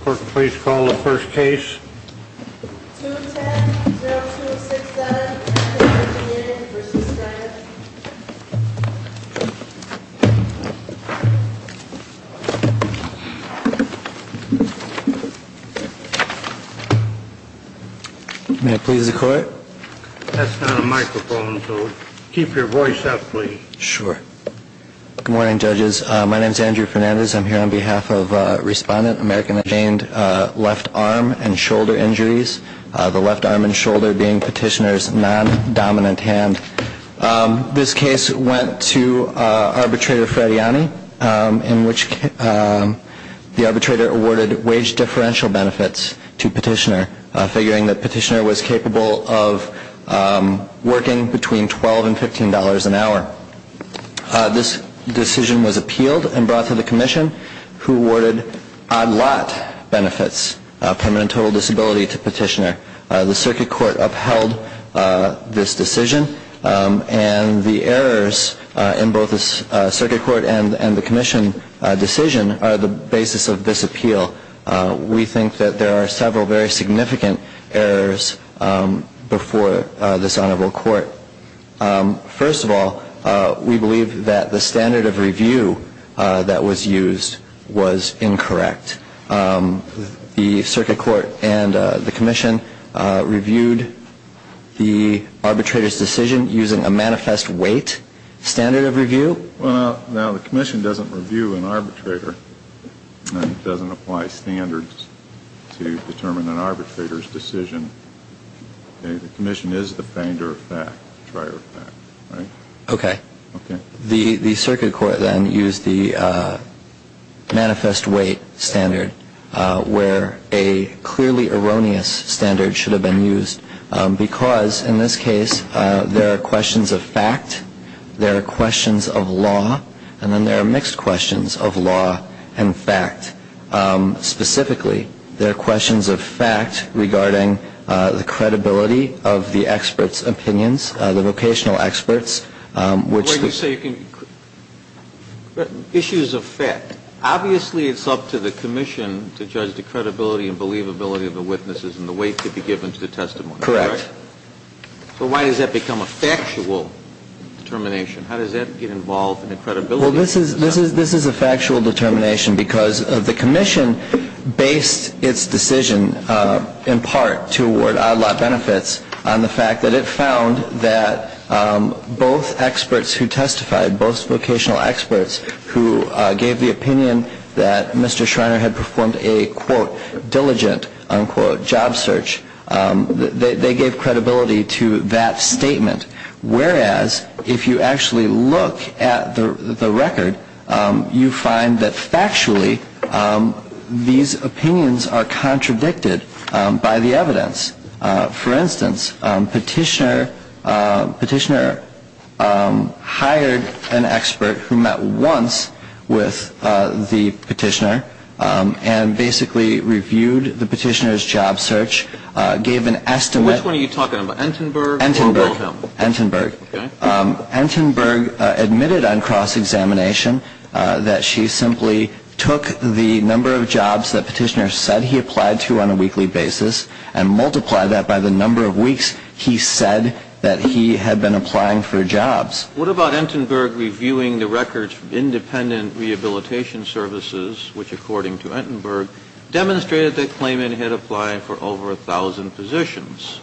Court, please call the first case. 210-0267, American Engineering v. Stratis May I please the court? That's not a microphone, so keep your voice up, please. Sure. Good morning, judges. My name is Andrew Fernandez. I'm here on behalf of Respondent American Engineering, left arm and shoulder injuries, the left arm and shoulder being Petitioner's non-dominant hand. This case went to arbitrator Frediani, in which the arbitrator awarded wage differential benefits to Petitioner, figuring that Petitioner was capable of working between $12 and $15 an hour. This decision was appealed and brought to the commission, who awarded odd lot benefits, permanent total disability, to Petitioner. The circuit court upheld this decision, and the errors in both the circuit court and the commission decision are the basis of this appeal. We think that there are several very significant errors before this honorable court. First of all, we believe that the standard of review that was used was incorrect. The circuit court and the commission reviewed the arbitrator's decision using a manifest weight standard of review. Now, the commission doesn't review an arbitrator and doesn't apply standards to determine an arbitrator's decision. The commission is the finder of fact, the trier of fact, right? Okay. The circuit court then used the manifest weight standard, where a clearly erroneous standard should have been used, because, in this case, there are questions of fact, there are questions of law, and then there are mixed questions of law and fact. Specifically, there are questions of fact regarding the credibility of the expert's opinions, the vocational experts, which the ---- Correct. So why does that become a factual determination? How does that get involved in the credibility? Well, this is a factual determination because the commission based its decision, in part, to award odd lot benefits, on the fact that it found that both experts who testified, both vocational experts who gave the opinion that Mr. Diligent, unquote, job search, they gave credibility to that statement. Whereas, if you actually look at the record, you find that, factually, these opinions are contradicted by the evidence. For instance, Petitioner hired an expert who met once with the Petitioner and basically reviewed the Petitioner's job search, gave an estimate. Which one are you talking about, Entenberg or Wilhelm? Entenberg. Entenberg admitted on cross-examination that she simply took the number of jobs that Petitioner said he applied to on a weekly basis and multiplied that by the number of weeks he said that he had been applying for jobs. What about Entenberg reviewing the records of independent rehabilitation services, which, according to Entenberg, demonstrated that Klayman had applied for over 1,000 positions?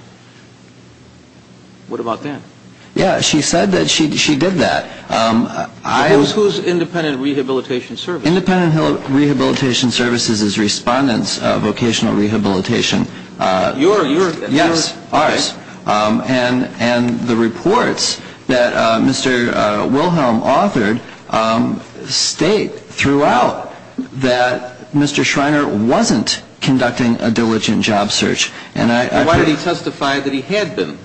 What about that? Yeah, she said that she did that. Who's independent rehabilitation services? Independent rehabilitation services is Respondent's Vocational Rehabilitation. Yours? Yes, ours. Okay. And the reports that Mr. Wilhelm authored state throughout that Mr. Schreiner wasn't conducting a diligent job search. And why did he testify that he had been?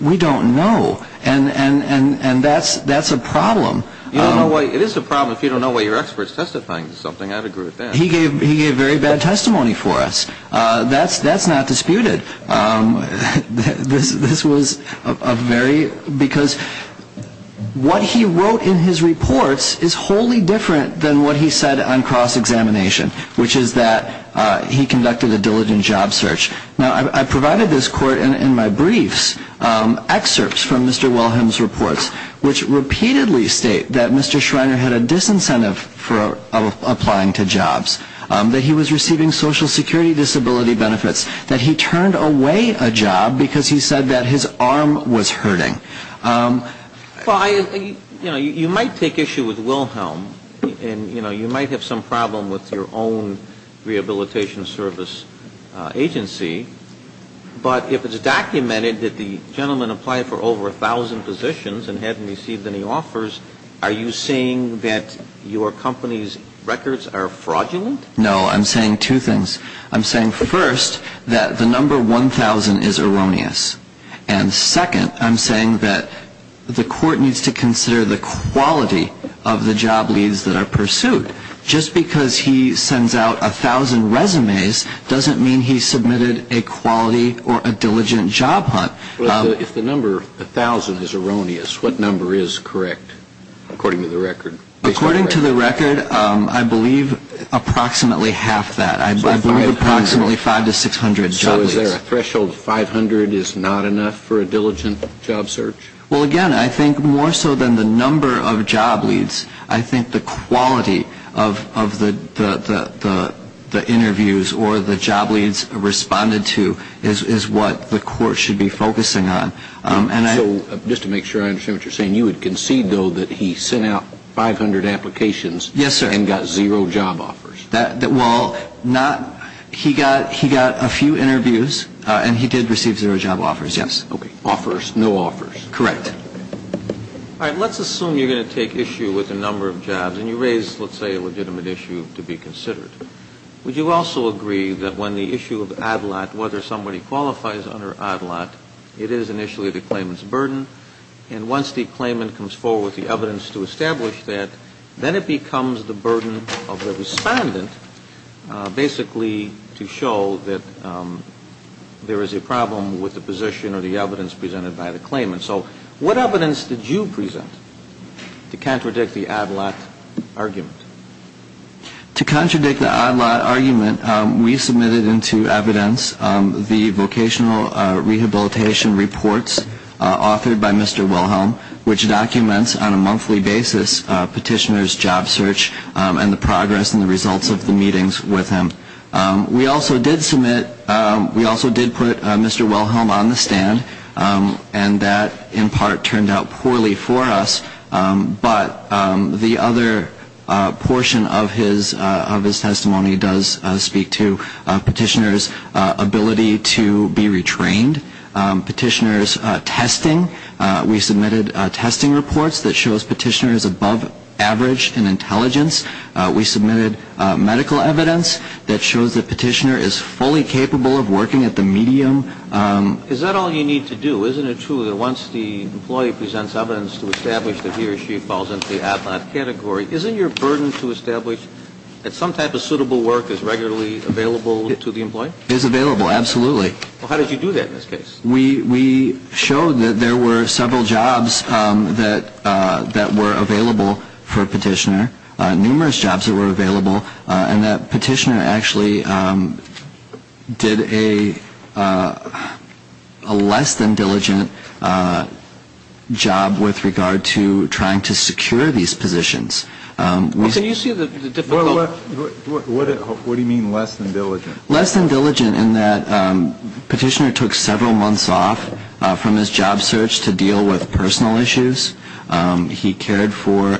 We don't know. And that's a problem. It is a problem if you don't know why your expert's testifying to something. I'd agree with that. He gave very bad testimony for us. That's not disputed. This was a very – because what he wrote in his reports is wholly different than what he said on cross-examination, which is that he conducted a diligent job search. Now, I provided this court in my briefs excerpts from Mr. Wilhelm's reports, which repeatedly state that Mr. Schreiner had a disincentive for applying to jobs, that he was receiving Social Security disability benefits, that he turned away a job because he said that his arm was hurting. Well, I – you know, you might take issue with Wilhelm and, you know, you might have some problem with your own rehabilitation service agency. But if it's documented that the gentleman applied for over a thousand positions and hadn't received any offers, are you saying that your company's records are fraudulent? No. I'm saying two things. I'm saying, first, that the number 1,000 is erroneous. And, second, I'm saying that the court needs to consider the quality of the job leads that are pursued. Just because he sends out 1,000 resumes doesn't mean he submitted a quality or a diligent job hunt. Well, if the number 1,000 is erroneous, what number is correct, according to the record? According to the record, I believe approximately half that. I believe approximately 500 to 600 job leads. So is there a threshold 500 is not enough for a diligent job search? Well, again, I think more so than the number of job leads, I think the quality of the interviews or the job leads responded to is what the court should be focusing on. So just to make sure I understand what you're saying, you would concede, though, that he sent out 500 applications and got zero job offers? Well, he got a few interviews, and he did receive zero job offers, yes. Okay. Offers, no offers. Correct. All right. Let's assume you're going to take issue with the number of jobs, and you raise, let's say, a legitimate issue to be considered. Would you also agree that when the issue of ad lat, whether somebody qualifies under ad lat, it is initially the claimant's burden, and once the claimant comes forward with the evidence to establish that, then it becomes the burden of the respondent basically to show that there is a problem with the position or the evidence presented by the claimant. So what evidence did you present to contradict the ad lat argument? To contradict the ad lat argument, we submitted into evidence the vocational rehabilitation reports authored by Mr. Wilhelm, which documents on a monthly basis petitioner's job search and the progress and the results of the meetings with him. We also did submit, we also did put Mr. Wilhelm on the stand, and that in part turned out poorly for us, but the other portion of his testimony does speak to petitioner's ability to be retrained, petitioner's testing. We submitted testing reports that shows petitioner is above average in intelligence. We submitted medical evidence that shows that petitioner is fully capable of working at the medium. Is that all you need to do? Isn't it true that once the employee presents evidence to establish that he or she falls into the ad lat category, isn't your burden to establish that some type of suitable work is regularly available to the employee? It is available, absolutely. Well, how did you do that in this case? We showed that there were several jobs that were available for a petitioner, numerous jobs that were available, and that petitioner actually did a less-than-diligent job with regard to trying to secure these positions. Can you see the difficulty? What do you mean less than diligent? Less than diligent in that petitioner took several months off from his job search to deal with personal issues. He cared for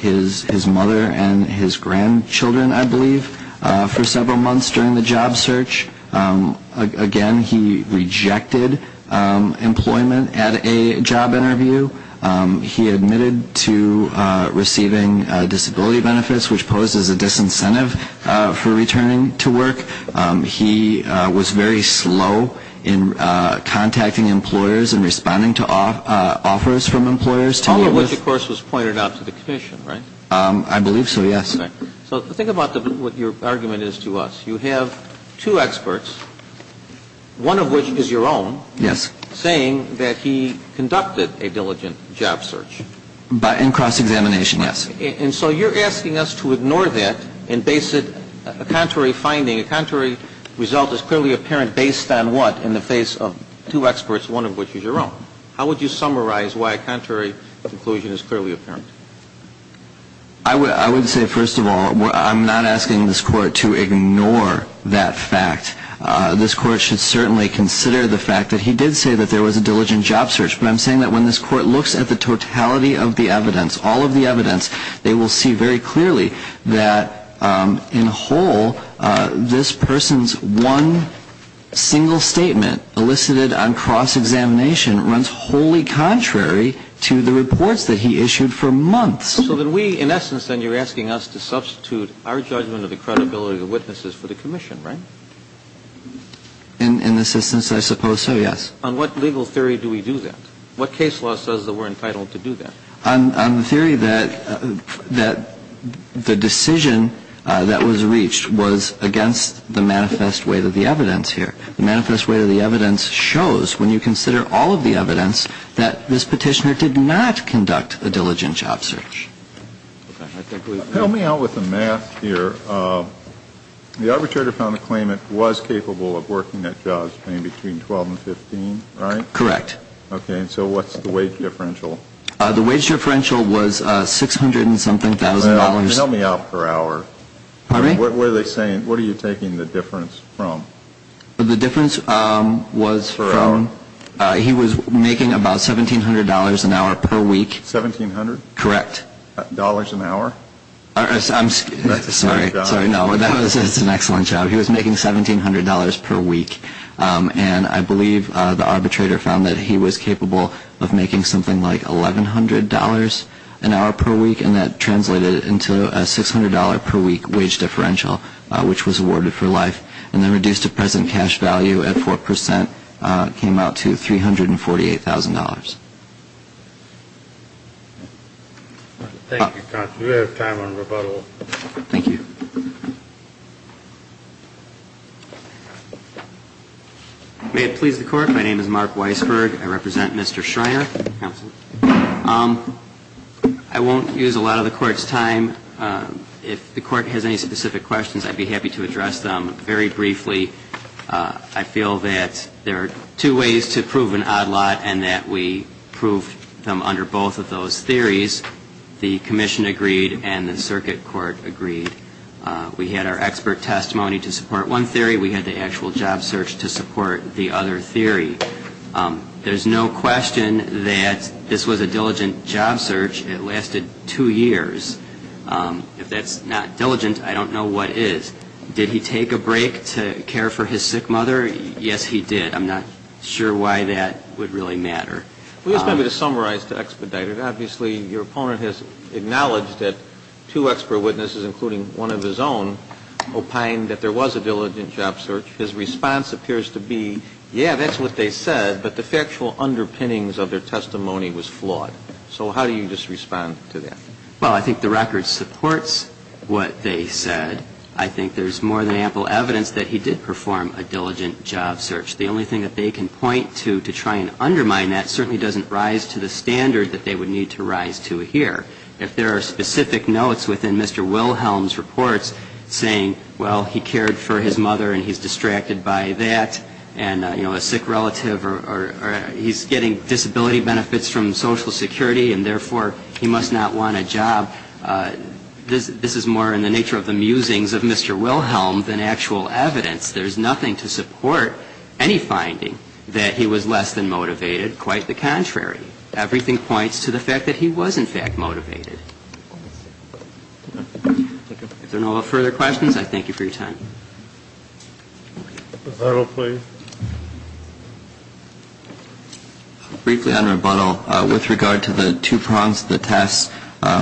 his mother and his grandchildren, I believe, for several months during the job search. Again, he rejected employment at a job interview. He admitted to receiving disability benefits, which poses a disincentive for returning to work. He was very slow in contacting employers and responding to offers from employers. All of which, of course, was pointed out to the commission, right? I believe so, yes. So think about what your argument is to us. You have two experts, one of which is your own. Yes. Saying that he conducted a diligent job search. In cross-examination, yes. And so you're asking us to ignore that and base it, a contrary finding, a contrary result is clearly apparent based on what? In the face of two experts, one of which is your own. How would you summarize why a contrary conclusion is clearly apparent? I would say, first of all, I'm not asking this court to ignore that fact. This court should certainly consider the fact that he did say that there was a diligent job search. But I'm saying that when this court looks at the totality of the evidence, all of the evidence, they will see very clearly that in whole, this person's one single statement elicited on cross-examination runs wholly contrary to the reports that he issued for months. So that we, in essence, then, you're asking us to substitute our judgment of the credibility of the witnesses for the commission, right? In the sense that I suppose so, yes. On what legal theory do we do that? What case law says that we're entitled to do that? On the theory that the decision that was reached was against the manifest weight of the evidence here. The manifest weight of the evidence shows, when you consider all of the evidence, that this petitioner did not conduct a diligent job search. Help me out with the math here. The arbitrator found a claimant was capable of working at jobs between 12 and 15, right? Correct. Okay. So what's the wage differential? The wage differential was 600 and something thousand dollars. Help me out per hour. Pardon me? What were they saying? What are you taking the difference from? The difference was from he was making about $1,700 an hour per week. $1,700? Correct. Dollars an hour? I'm sorry. Sorry, no. That's an excellent job. He was making $1,700 per week. And I believe the arbitrator found that he was capable of making something like $1,100 an hour per week, and that translated into a $600 per week wage differential, which was awarded for life. And the reduced to present cash value at 4% came out to $348,000. Thank you. We do have time on rebuttal. Thank you. May it please the Court. My name is Mark Weisberg. I represent Mr. Schreiner. I won't use a lot of the Court's time. If the Court has any specific questions, I'd be happy to address them very briefly. I feel that there are two ways to prove an odd lot and that we proved them under both of those theories. The Commission agreed and the Circuit Court agreed. We had our expert testimony to support one theory. We had the actual job search to support the other theory. There's no question that this was a diligent job search. It lasted two years. If that's not diligent, I don't know what is. Did he take a break to care for his sick mother? Yes, he did. I'm not sure why that would really matter. Well, just maybe to summarize, to expedite it, obviously your opponent has acknowledged that two expert witnesses, including one of his own, opine that there was a diligent job search. His response appears to be, yeah, that's what they said, but the factual underpinnings of their testimony was flawed. So how do you just respond to that? Well, I think the record supports what they said. I think there's more than ample evidence that he did perform a diligent job search. The only thing that they can point to to try and undermine that certainly doesn't rise to the standard that they would need to rise to here. If there are specific notes within Mr. Wilhelm's reports saying, well, he cared for his mother and he's distracted by that and, you know, a sick relative or he's getting disability benefits from Social Security and therefore he must not want a job, this is more in the nature of the musings of Mr. Wilhelm than actual evidence. There's nothing to support any finding that he was less than motivated. Quite the contrary. Everything points to the fact that he was, in fact, motivated. If there are no further questions, I thank you for your time. Rebuttal, please. Briefly on rebuttal, with regard to the two prongs of the test,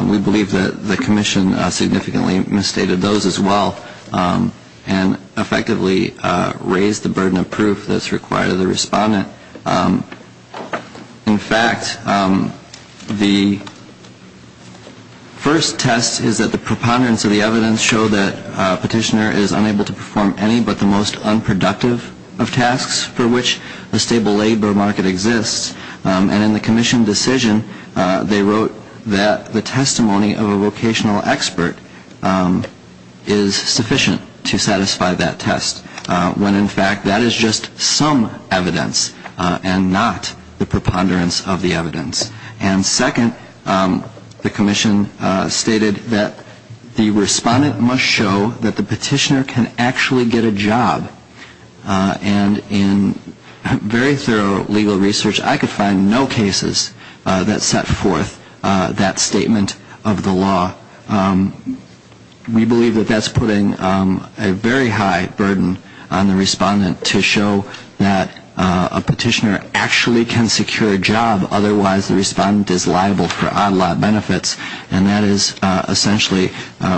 we believe that the commission significantly misstated those as well and effectively raised the burden of proof that's required of the respondent. In fact, the first test is that the preponderance of the evidence show that a petitioner is unable to perform any but the most unproductive of tasks for which the stable labor market exists. And in the commission decision, they wrote that the testimony of a vocational expert is sufficient to satisfy that test, when in fact that is just some evidence and not the preponderance of the evidence. And second, the commission stated that the respondent must show that the petitioner can actually get a job. And in very thorough legal research, I could find no cases that set forth that statement of the law. We believe that that's putting a very high burden on the respondent to show that a petitioner actually can secure a job, otherwise the respondent is liable for odd-lot benefits. And that is essentially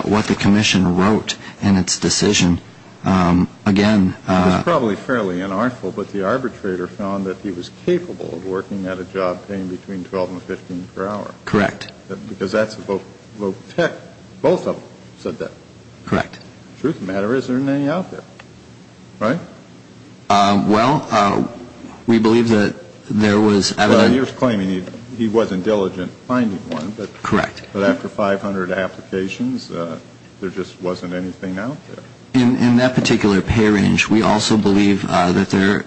what the commission wrote in its decision. Again, It was probably fairly unharmful, but the arbitrator found that he was capable of working at a job paying between 12 and 15 per hour. Correct. Because that's a voc tech. Both of them said that. Correct. Truth of the matter is there isn't any out there. Right? Well, we believe that there was evidence. Well, he was claiming he wasn't diligent finding one. Correct. But after 500 applications, there just wasn't anything out there. In that particular pay range, we also believe that there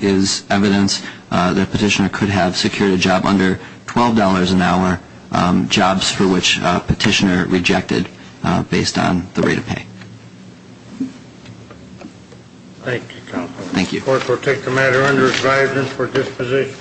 is evidence that a petitioner could have secured a job under $12 an hour jobs for which a petitioner rejected based on the rate of pay. Thank you, counsel. Thank you. The court will take the matter under its guidance for disposition.